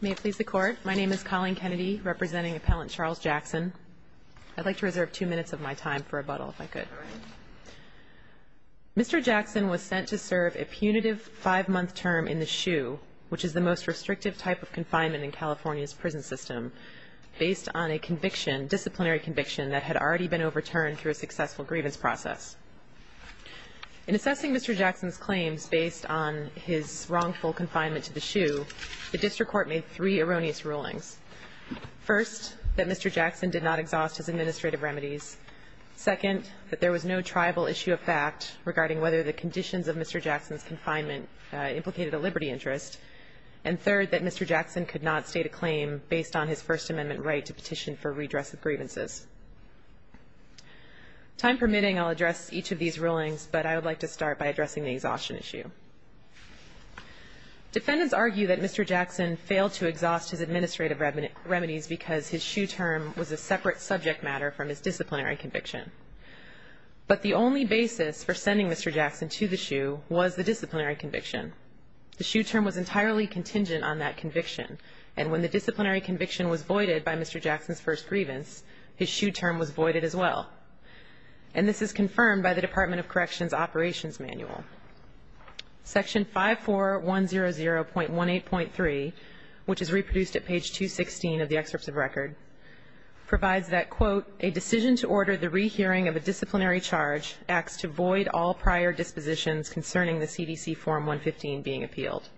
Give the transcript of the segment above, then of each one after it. May it please the Court. My name is Colleen Kennedy, representing Appellant Charles Jackson. I'd like to reserve two minutes of my time for rebuttal, if I could. Mr. Jackson was sent to serve a punitive five-month term in the SHU, which is the most restrictive type of confinement in California's prison system, based on a disciplinary conviction that had already been overturned through a successful grievance process. In assessing Mr. Jackson's claims based on his wrongful confinement to the SHU, the district court made three erroneous rulings. First, that Mr. Jackson did not exhaust his administrative remedies. Second, that there was no tribal issue of fact regarding whether the conditions of Mr. Jackson's confinement implicated a liberty interest. And third, that Mr. Jackson could not state a claim based on his First Amendment right to petition for redress of grievances. Time permitting, I'll address each of these rulings, but I would like to start by addressing the exhaustion issue. Defendants argue that Mr. Jackson failed to exhaust his administrative remedies because his SHU term was a separate subject matter from his disciplinary conviction. But the only basis for sending Mr. Jackson to the SHU was the disciplinary conviction. The SHU term was entirely contingent on that conviction, and when the disciplinary conviction was voided by Mr. Jackson's first grievance, his SHU term was voided as well. And this is confirmed by the Department of Corrections Operations Manual. Section 54100.18.3, which is reproduced at page 216 of the excerpts of record, provides that, quote, a decision to order the rehearing of a disciplinary charge acts to void all prior dispositions concerning the CDC Form 115 being appealed.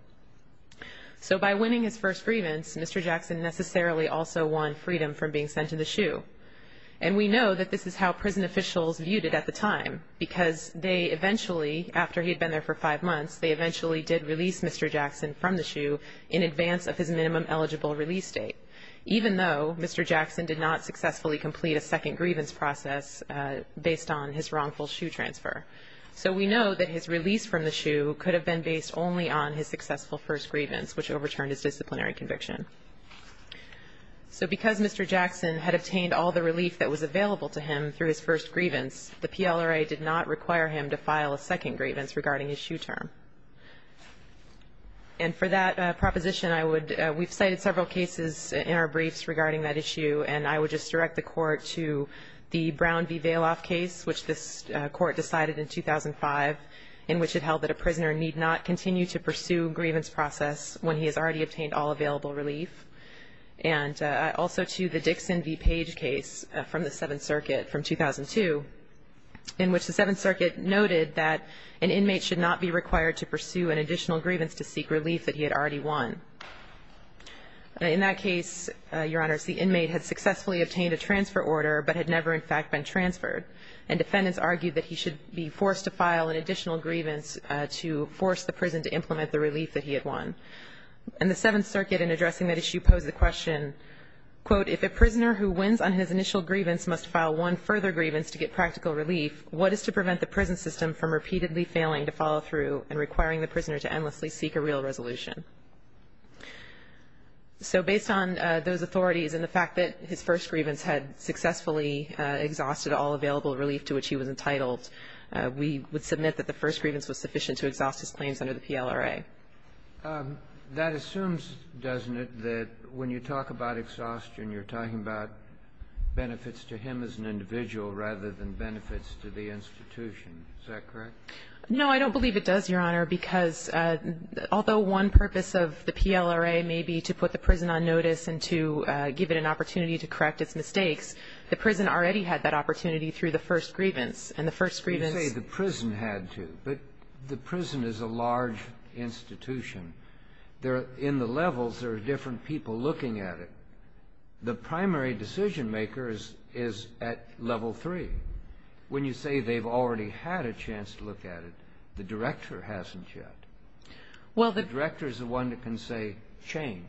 So by winning his first grievance, Mr. Jackson necessarily also won freedom from being sent to the SHU. And we know that this is how prison officials viewed it at the time, because they eventually, after he had been there for five months, they eventually did release Mr. Jackson from the SHU in advance of his minimum eligible release date, even though Mr. Jackson did not successfully complete a second grievance process based on his wrongful SHU transfer. So we know that his release from the SHU could have been based only on his successful first grievance, which overturned his disciplinary conviction. So because Mr. Jackson had obtained all the relief that was available to him through his first grievance, the PLRA did not require him to file a second grievance regarding his SHU term. And for that proposition, I would we've cited several cases in our briefs regarding that issue, and I would just direct the Court to the Brown v. Vailoff case, which this Court decided in 2005, in which it held that a prisoner need not continue to pursue a grievance process when he has already obtained all available relief, and also to the Dixon v. Page case from the Seventh Circuit from 2002, in which the Seventh Circuit noted that an inmate should not be required to pursue an additional grievance to seek relief that he had already won. In that case, Your Honors, the inmate had successfully obtained a transfer order, but had never, in fact, been transferred, and defendants argued that he should be forced to file an additional grievance to force the prison to implement the relief that he had won. And the Seventh Circuit, in addressing that issue, posed the question, quote, if a prisoner who wins on his initial grievance must file one further grievance to get practical relief, what is to prevent the prison system from repeatedly failing to follow through and requiring the prisoner to endlessly seek a real resolution? So based on those authorities and the fact that his first grievance had successfully exhausted all available relief to which he was entitled, we would submit that the first grievance was sufficient to exhaust his claims under the PLRA. That assumes, doesn't it, that when you talk about exhaustion, you're talking about benefits to him as an individual rather than benefits to the institution. Is that correct? No, I don't believe it does, Your Honor, because although one purpose of the PLRA may be to put the prison on notice and to give it an opportunity to correct its mistakes, the prison already had that opportunity through the first grievance. And the first grievance You say the prison had to, but the prison is a large institution. In the levels, there are different people looking at it. The primary decision-maker is at level three. When you say they've already had a chance to look at it, the director hasn't yet. The director is the one that can say, change.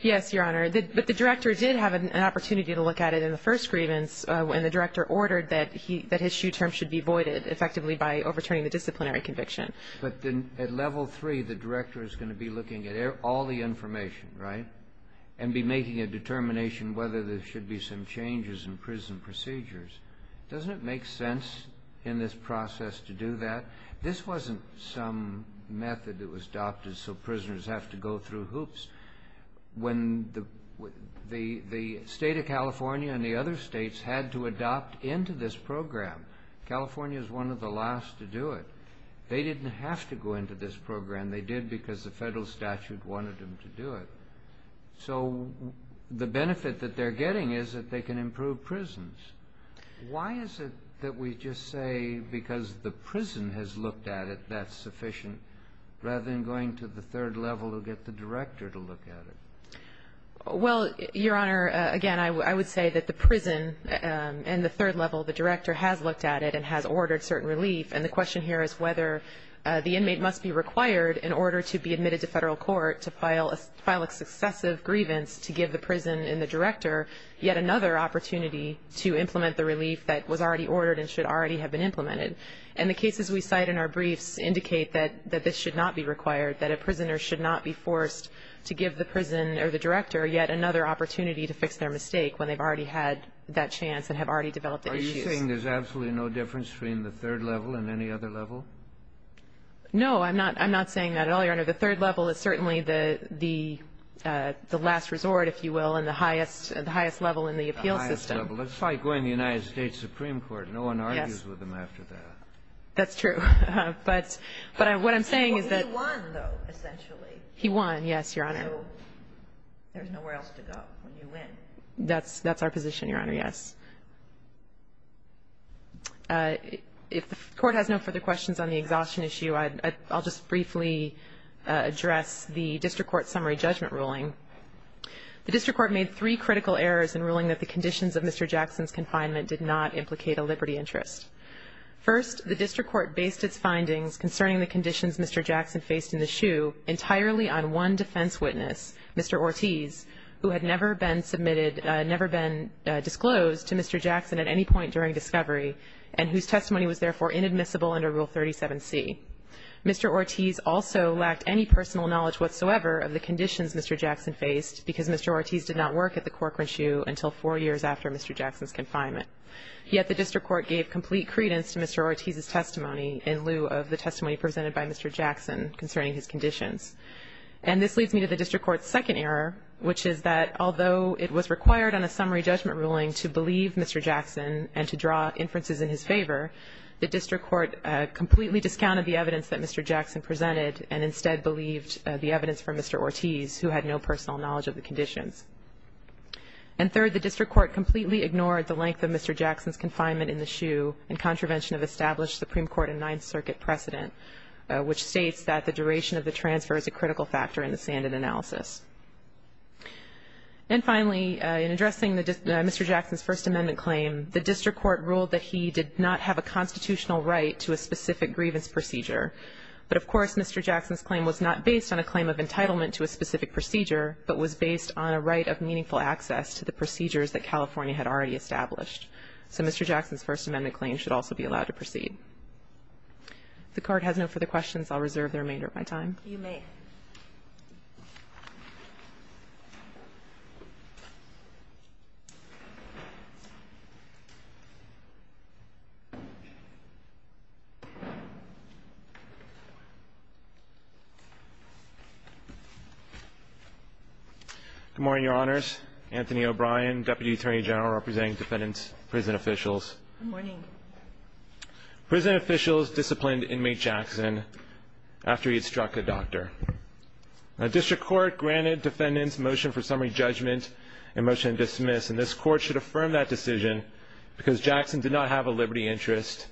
Yes, Your Honor, but the director did have an opportunity to look at it in the first grievance, and the director ordered that his shoe term should be voided effectively by overturning the disciplinary conviction. But at level three, the director is going to be looking at all the information, right, and be making a determination whether there should be some changes in prison procedures. Doesn't it make sense in this process to do that? This wasn't some method that was adopted so prisoners have to go through hoops. The state of California and the other states had to adopt into this program. California is one of the last to do it. They didn't have to go into this program. They did because the federal statute wanted them to do it. So the benefit that they're getting is that they can improve prisons. Why is it that we just say because the prison has looked at it, that's sufficient, rather than going to the third level to get the director to look at it? Well, Your Honor, again, I would say that the prison and the third level, the director has looked at it and has ordered certain relief, and the question here is whether the inmate must be required in order to be admitted to federal court to file a successive grievance to give the prison and the director yet another opportunity to implement the relief that was already ordered and should already have been implemented. And the cases we cite in our briefs indicate that this should not be required, that a prisoner should not be forced to give the prison or the director yet another opportunity to fix their mistake when they've already had that chance and have already developed the issues. You're saying there's absolutely no difference between the third level and any other level? No, I'm not saying that at all, Your Honor. The third level is certainly the last resort, if you will, and the highest level in the appeal system. The highest level. It's like going to the United States Supreme Court. Yes. No one argues with them after that. That's true. But what I'm saying is that he won, yes, Your Honor. So there's nowhere else to go when you win. That's our position, Your Honor, yes. If the Court has no further questions on the exhaustion issue, I'll just briefly address the district court summary judgment ruling. The district court made three critical errors in ruling that the conditions of Mr. Jackson's confinement did not implicate a liberty interest. First, the district court based its findings concerning the conditions Mr. Jackson faced in the shoe entirely on one defense witness, Mr. Ortiz, who had never been submitted, never been disclosed to Mr. Jackson at any point during discovery and whose testimony was therefore inadmissible under Rule 37C. Mr. Ortiz also lacked any personal knowledge whatsoever of the conditions Mr. Jackson faced because Mr. Ortiz did not work at the Corcoran shoe until four years after Mr. Jackson's confinement. Yet the district court gave complete credence to Mr. Ortiz's testimony in lieu of the conditions. And this leads me to the district court's second error, which is that although it was required on a summary judgment ruling to believe Mr. Jackson and to draw inferences in his favor, the district court completely discounted the evidence that Mr. Jackson presented and instead believed the evidence from Mr. Ortiz, who had no personal knowledge of the conditions. And third, the district court completely ignored the length of Mr. Jackson's confinement in the shoe in contravention of established Supreme Court and Ninth Circuit precedent, which states that the duration of the transfer is a critical factor in the sanded analysis. And finally, in addressing Mr. Jackson's First Amendment claim, the district court ruled that he did not have a constitutional right to a specific grievance procedure. But, of course, Mr. Jackson's claim was not based on a claim of entitlement to a specific procedure, but was based on a right of meaningful access to the procedures that California had already established. So Mr. Jackson's First Amendment claim should also be allowed to proceed. If the Court has no further questions, I'll reserve the remainder of my time. You may. Good morning, Your Honors. Anthony O'Brien, Deputy Attorney General representing defendant's prison officials. Good morning. Prison officials disciplined inmate Jackson after he had struck a doctor. A district court granted defendant's motion for summary judgment and motion to dismiss, and this court should affirm that decision because Jackson did not have a liberty interest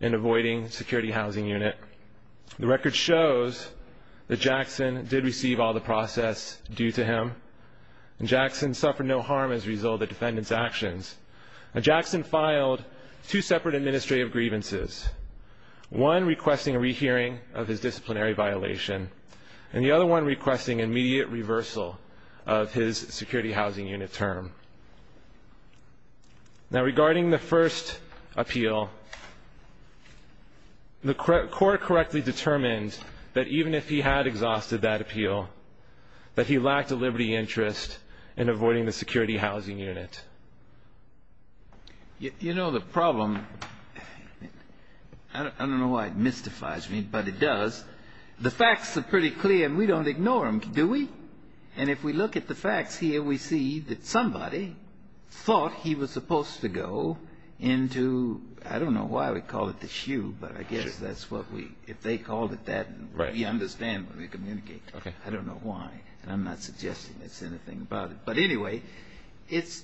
in avoiding security housing unit. The record shows that Jackson did receive all the process due to him, and Jackson filed two separate administrative grievances, one requesting a rehearing of his disciplinary violation, and the other one requesting immediate reversal of his security housing unit term. Now, regarding the first appeal, the court correctly determined that even if he had exhausted that appeal, that he lacked a liberty interest in avoiding the security housing unit. You know, the problem, I don't know why it mystifies me, but it does. The facts are pretty clear, and we don't ignore them, do we? And if we look at the facts here, we see that somebody thought he was supposed to go into, I don't know why we call it the shoe, but I guess that's what we, if they called it that, we understand when we communicate. I don't know why, and I'm not suggesting there's anything about it. But anyway, it's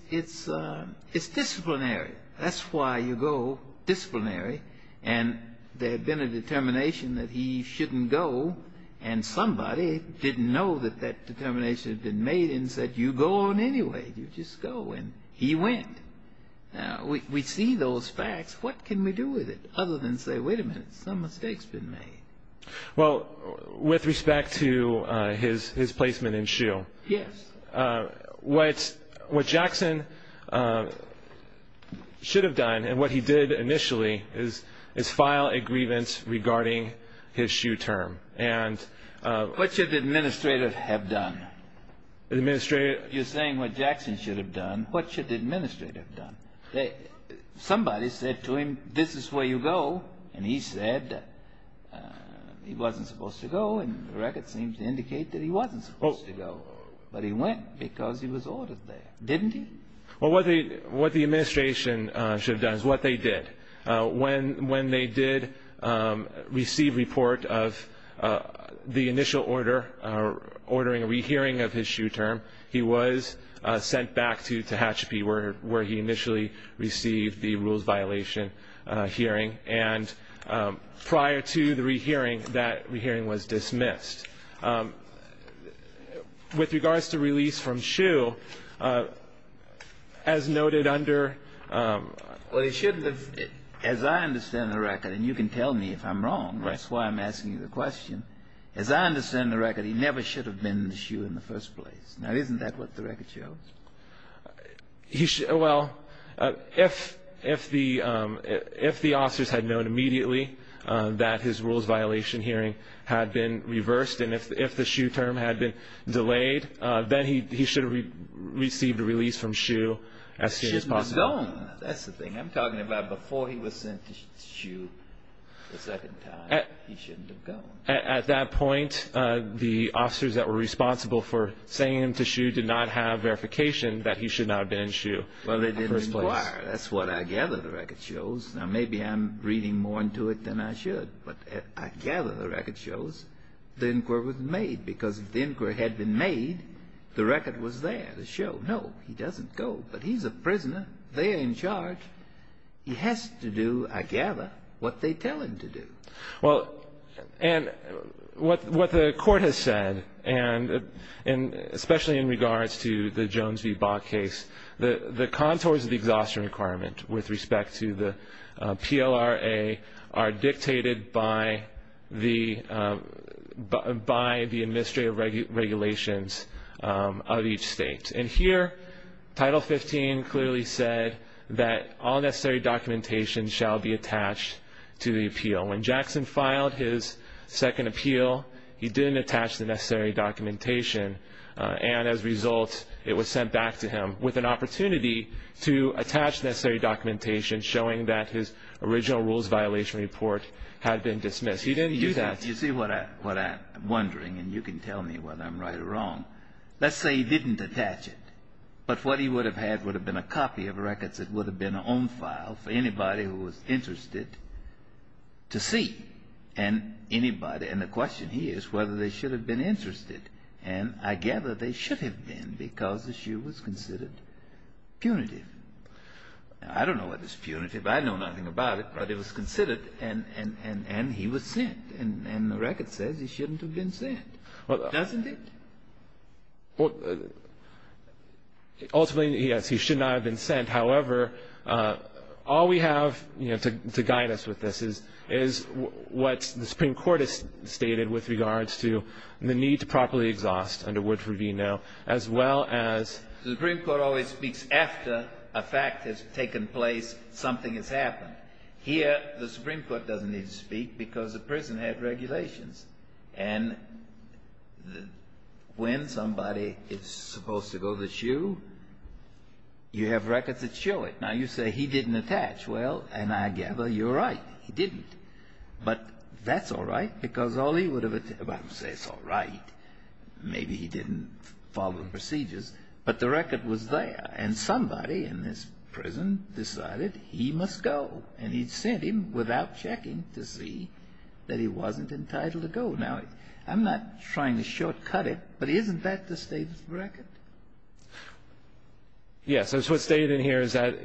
disciplinary. That's why you go disciplinary, and there had been a determination that he shouldn't go, and somebody didn't know that that determination had been made and said, you go on anyway. You just go, and he went. Now, we see those facts. What can we do with it other than say, wait a minute, some mistake's been made? Well, with respect to his placement in shoe. Yes. What Jackson should have done, and what he did initially, is file a grievance regarding his shoe term. What should the administrator have done? You're saying what Jackson should have done. What should the administrator have done? Somebody said to him, this is where you go, and he said he wasn't supposed to go, and the record seems to indicate that he wasn't supposed to go. But he went, because he was ordered there. Didn't he? Well, what the administration should have done is what they did. When they did receive report of the initial order, ordering a rehearing of his shoe term, he was sent back to Tehachapi, where he initially received the rules violation hearing, and prior to the rehearing, that rehearing was dismissed. With regards to release from shoe, as noted under ---- Well, he shouldn't have. As I understand the record, and you can tell me if I'm wrong, that's why I'm asking you the question, as I understand the record, he never should have been in the shoe in the first place. Now, isn't that what the record shows? Well, if the officers had known immediately that his rules violation hearing had been reversed, and if the shoe term had been delayed, then he should have received a release from shoe as soon as possible. He shouldn't have gone. That's the thing. I'm talking about before he was sent to shoe the second time, he shouldn't have gone. At that point, the officers that were responsible for sending him to shoe did not have verification that he should not have been in shoe in the first place. Well, they didn't inquire. That's what I gather the record shows. Now, maybe I'm reading more into it than I should, but I gather the record shows the inquiry was made, because if the inquiry had been made, the record was there to show, no, he doesn't go. But he's a prisoner there in charge. He has to do, I gather, what they tell him to do. Well, and what the Court has said, and especially in regards to the Jones v. Bach case, the contours of the exhaustion requirement with respect to the PLRA are dictated by the administrative regulations of each state. And here, Title 15 clearly said that all necessary documentation shall be attached to the appeal. When Jackson filed his second appeal, he didn't attach the necessary documentation, and as a result, it was sent back to him with an opportunity to attach necessary documentation showing that his original rules violation report had been dismissed. He didn't do that. You see what I'm wondering, and you can tell me whether I'm right or wrong. Let's say he didn't attach it, but what he would have had would have been a copy of records that would have been on file for anybody who was interested to see. And the question here is whether they should have been interested. And I gather they should have been because the issue was considered punitive. I don't know what is punitive. I know nothing about it. But it was considered, and he was sent. And the record says he shouldn't have been sent. Doesn't it? Ultimately, yes, he should not have been sent. However, all we have, you know, to guide us with this is what the Supreme Court has stated with regards to the need to properly exhaust under Woodford v. Noe, as well as... The Supreme Court always speaks after a fact has taken place, something has happened. Here, the Supreme Court doesn't need to speak because the prison had regulations. And when somebody is supposed to go to the shoe, you have records that show it. Now, you say he didn't attach. Well, and I gather you're right. He didn't. But that's all right because all he would have... Well, I'm going to say it's all right. Maybe he didn't follow the procedures, but the record was there. And somebody in this prison decided he must go. And he sent him without checking to see that he wasn't entitled to go. Now, I'm not trying to shortcut it, but isn't that the State's record? Yes. That's what's stated in here is that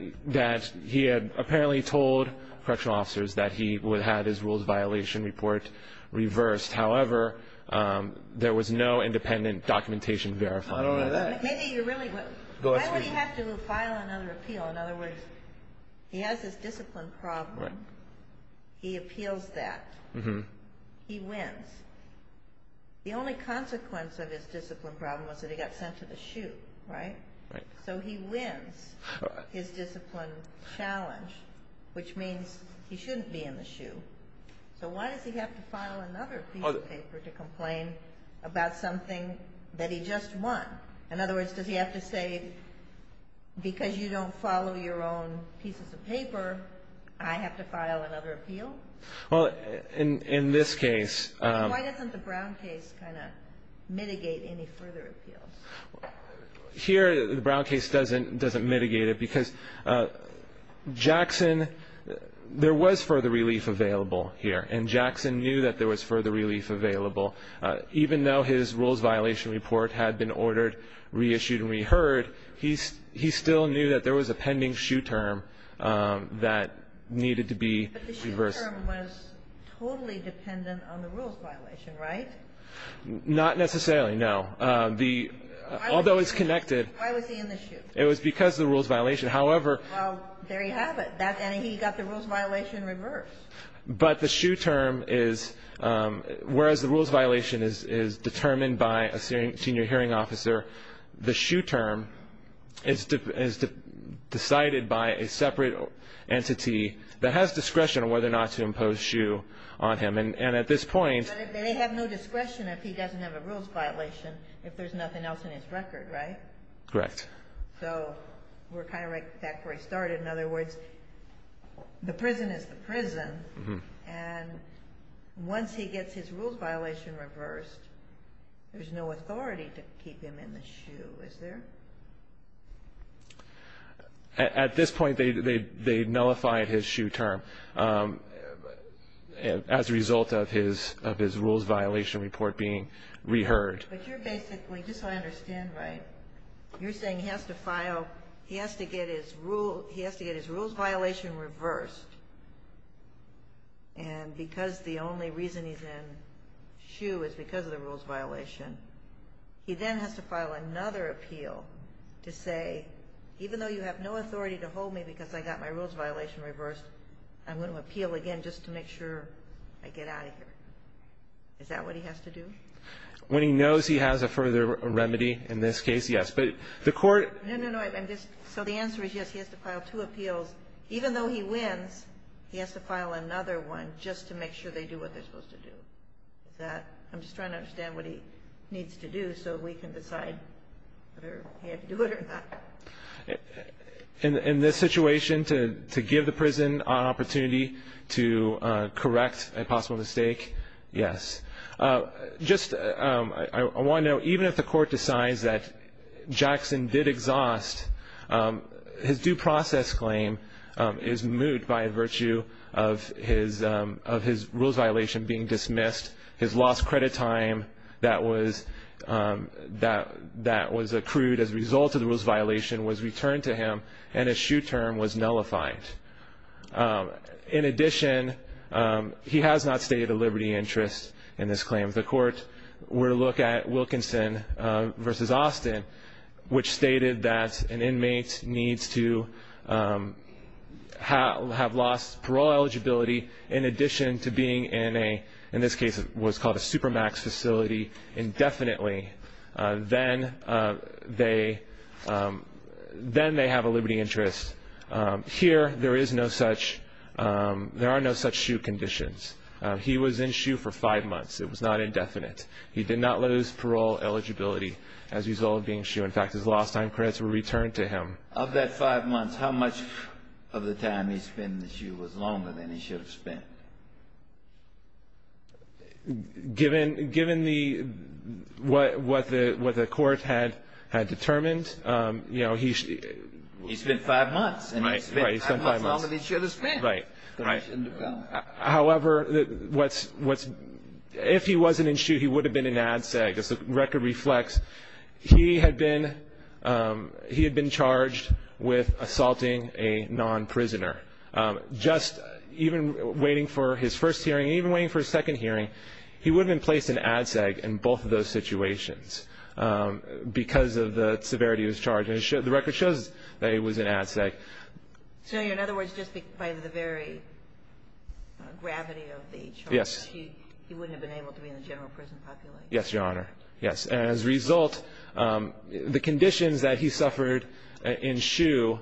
he had apparently told correctional officers that he would have his rules violation report reversed. However, there was no independent documentation verifying that. I don't know that. Maybe you really would. Go ahead, sweetie. Why would he have to file another appeal? In other words, he has this discipline problem. He appeals that. He wins. The only consequence of his discipline problem was that he got sent to the shoe, right? So he wins his discipline challenge, which means he shouldn't be in the shoe. So why does he have to file another piece of paper to complain about something that he just won? In other words, does he have to say, because you don't follow your own pieces of paper, I have to file another appeal? Well, in this case. I mean, why doesn't the Brown case kind of mitigate any further appeals? Here, the Brown case doesn't mitigate it because Jackson, there was further relief available here. And Jackson knew that there was further relief available. Even though his rules violation report had been ordered, reissued and reheard, he still knew that there was a pending shoe term that needed to be reversed. But the shoe term was totally dependent on the rules violation, right? Not necessarily, no. Although it's connected. Why was he in the shoe? It was because of the rules violation. However. Well, there you have it. And he got the rules violation reversed. But the shoe term is, whereas the rules violation is determined by a senior hearing officer, the shoe term is decided by a separate entity that has discretion on whether or not to impose shoe on him. And at this point. But they have no discretion if he doesn't have a rules violation, if there's nothing else in his record, right? Correct. So we're kind of right back where we started. In other words, the prison is the prison. And once he gets his rules violation reversed, there's no authority to keep him in the shoe, is there? At this point, they nullified his shoe term as a result of his rules violation report being reheard. But you're basically, just so I understand right, you're saying he has to file, so he has to get his rules violation reversed. And because the only reason he's in shoe is because of the rules violation, he then has to file another appeal to say, even though you have no authority to hold me because I got my rules violation reversed, I'm going to appeal again just to make sure I get out of here. Is that what he has to do? When he knows he has a further remedy in this case, yes. No, no, no. So the answer is yes, he has to file two appeals. Even though he wins, he has to file another one just to make sure they do what they're supposed to do. I'm just trying to understand what he needs to do so we can decide whether he had to do it or not. In this situation, to give the prison an opportunity to correct a possible mistake, yes. Just, I want to know, even if the court decides that Jackson did exhaust, his due process claim is moot by virtue of his rules violation being dismissed, his lost credit time that was accrued as a result of the rules violation was returned to him, and his shoe term was nullified. In addition, he has not stated a liberty interest in this claim. If the court were to look at Wilkinson v. Austin, which stated that an inmate needs to have lost parole eligibility in addition to being in a, in this case it was called a supermax facility, indefinitely, then they have a liberty interest. Here, there is no such, there are no such shoe conditions. He was in shoe for five months. It was not indefinite. He did not lose parole eligibility as a result of being in shoe. In fact, his lost time credits were returned to him. Of that five months, how much of the time he spent in the shoe was longer than he should have spent? Given the, what the court had determined, you know, he... He spent five months, and he spent five months longer than he should have spent. Right. However, what's, if he wasn't in shoe, he would have been in ADSEG. As the record reflects, he had been, he had been charged with assaulting a non-prisoner. Just even waiting for his first hearing, even waiting for his second hearing, he would have been placed in ADSEG in both of those situations because of the severity of his charge. And the record shows that he was in ADSEG. So, in other words, just by the very gravity of the charge, he wouldn't have been able to be in the general prison population. Yes, Your Honor. Yes. And as a result, the conditions that he suffered in shoe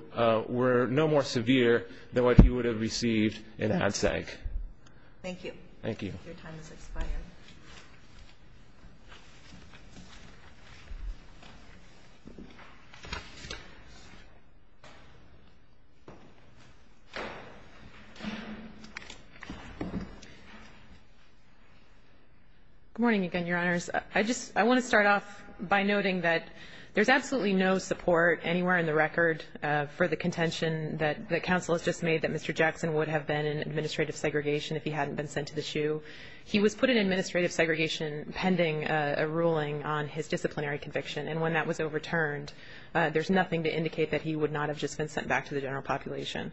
were no more severe than what he would have received in ADSEG. Thank you. Thank you. Your time has expired. Good morning again, Your Honors. I just, I want to start off by noting that there's absolutely no support anywhere in the record for the contention that the counsel has just made that Mr. Jackson would have been in ADSEG if he hadn't been sent to the shoe. He was put in ADSEG pending a ruling on his disciplinary conviction. And when that was overturned, there's nothing to indicate that he would not have just been sent back to the general population.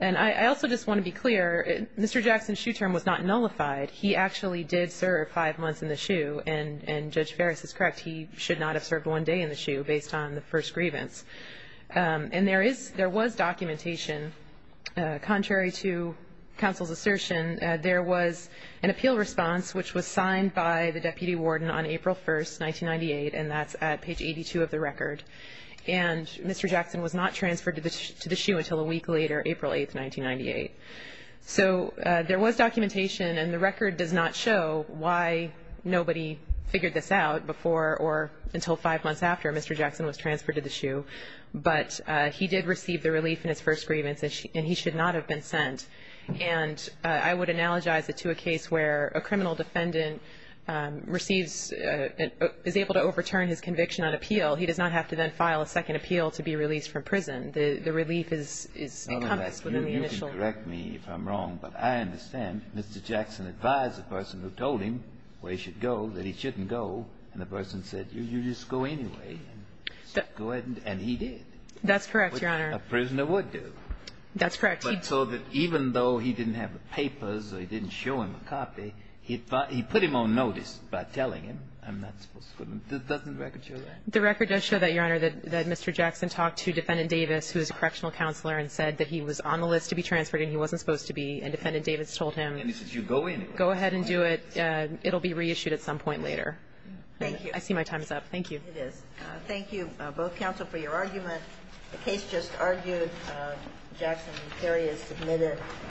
And I also just want to be clear, Mr. Jackson's shoe term was not nullified. He actually did serve five months in the shoe. And Judge Ferris is correct. He should not have served one day in the shoe based on the first grievance. And there is, there was documentation, contrary to counsel's assertion, there was an appeal response which was signed by the deputy warden on April 1st, 1998, and that's at page 82 of the record. And Mr. Jackson was not transferred to the shoe until a week later, April 8th, 1998. So there was documentation, and the record does not show why nobody figured this out before or until five months after Mr. Jackson was transferred to the shoe. But he did receive the relief in his first grievance, and he should not have been sent. And I would analogize it to a case where a criminal defendant receives, is able to overturn his conviction on appeal. He does not have to then file a second appeal to be released from prison. The relief is encompassed within the initial. You can correct me if I'm wrong, but I understand. Mr. Jackson advised the person who told him where he should go that he shouldn't go, and the person said, you just go anyway. And he did. That's correct, Your Honor. A prisoner would do. That's correct. But so that even though he didn't have papers or he didn't show him a copy, he put him on notice by telling him, I'm not supposed to go. Doesn't the record show that? The record does show that, Your Honor, that Mr. Jackson talked to Defendant Davis, who is a correctional counselor, and said that he was on the list to be transferred and he wasn't supposed to be. And Defendant Davis told him. And he says, you go anyway. Go ahead and do it. It will be reissued at some point later. Thank you. I see my time is up. Thank you. It is. Thank you, both counsel, for your argument. The case just argued. Jackson and Carey are submitted.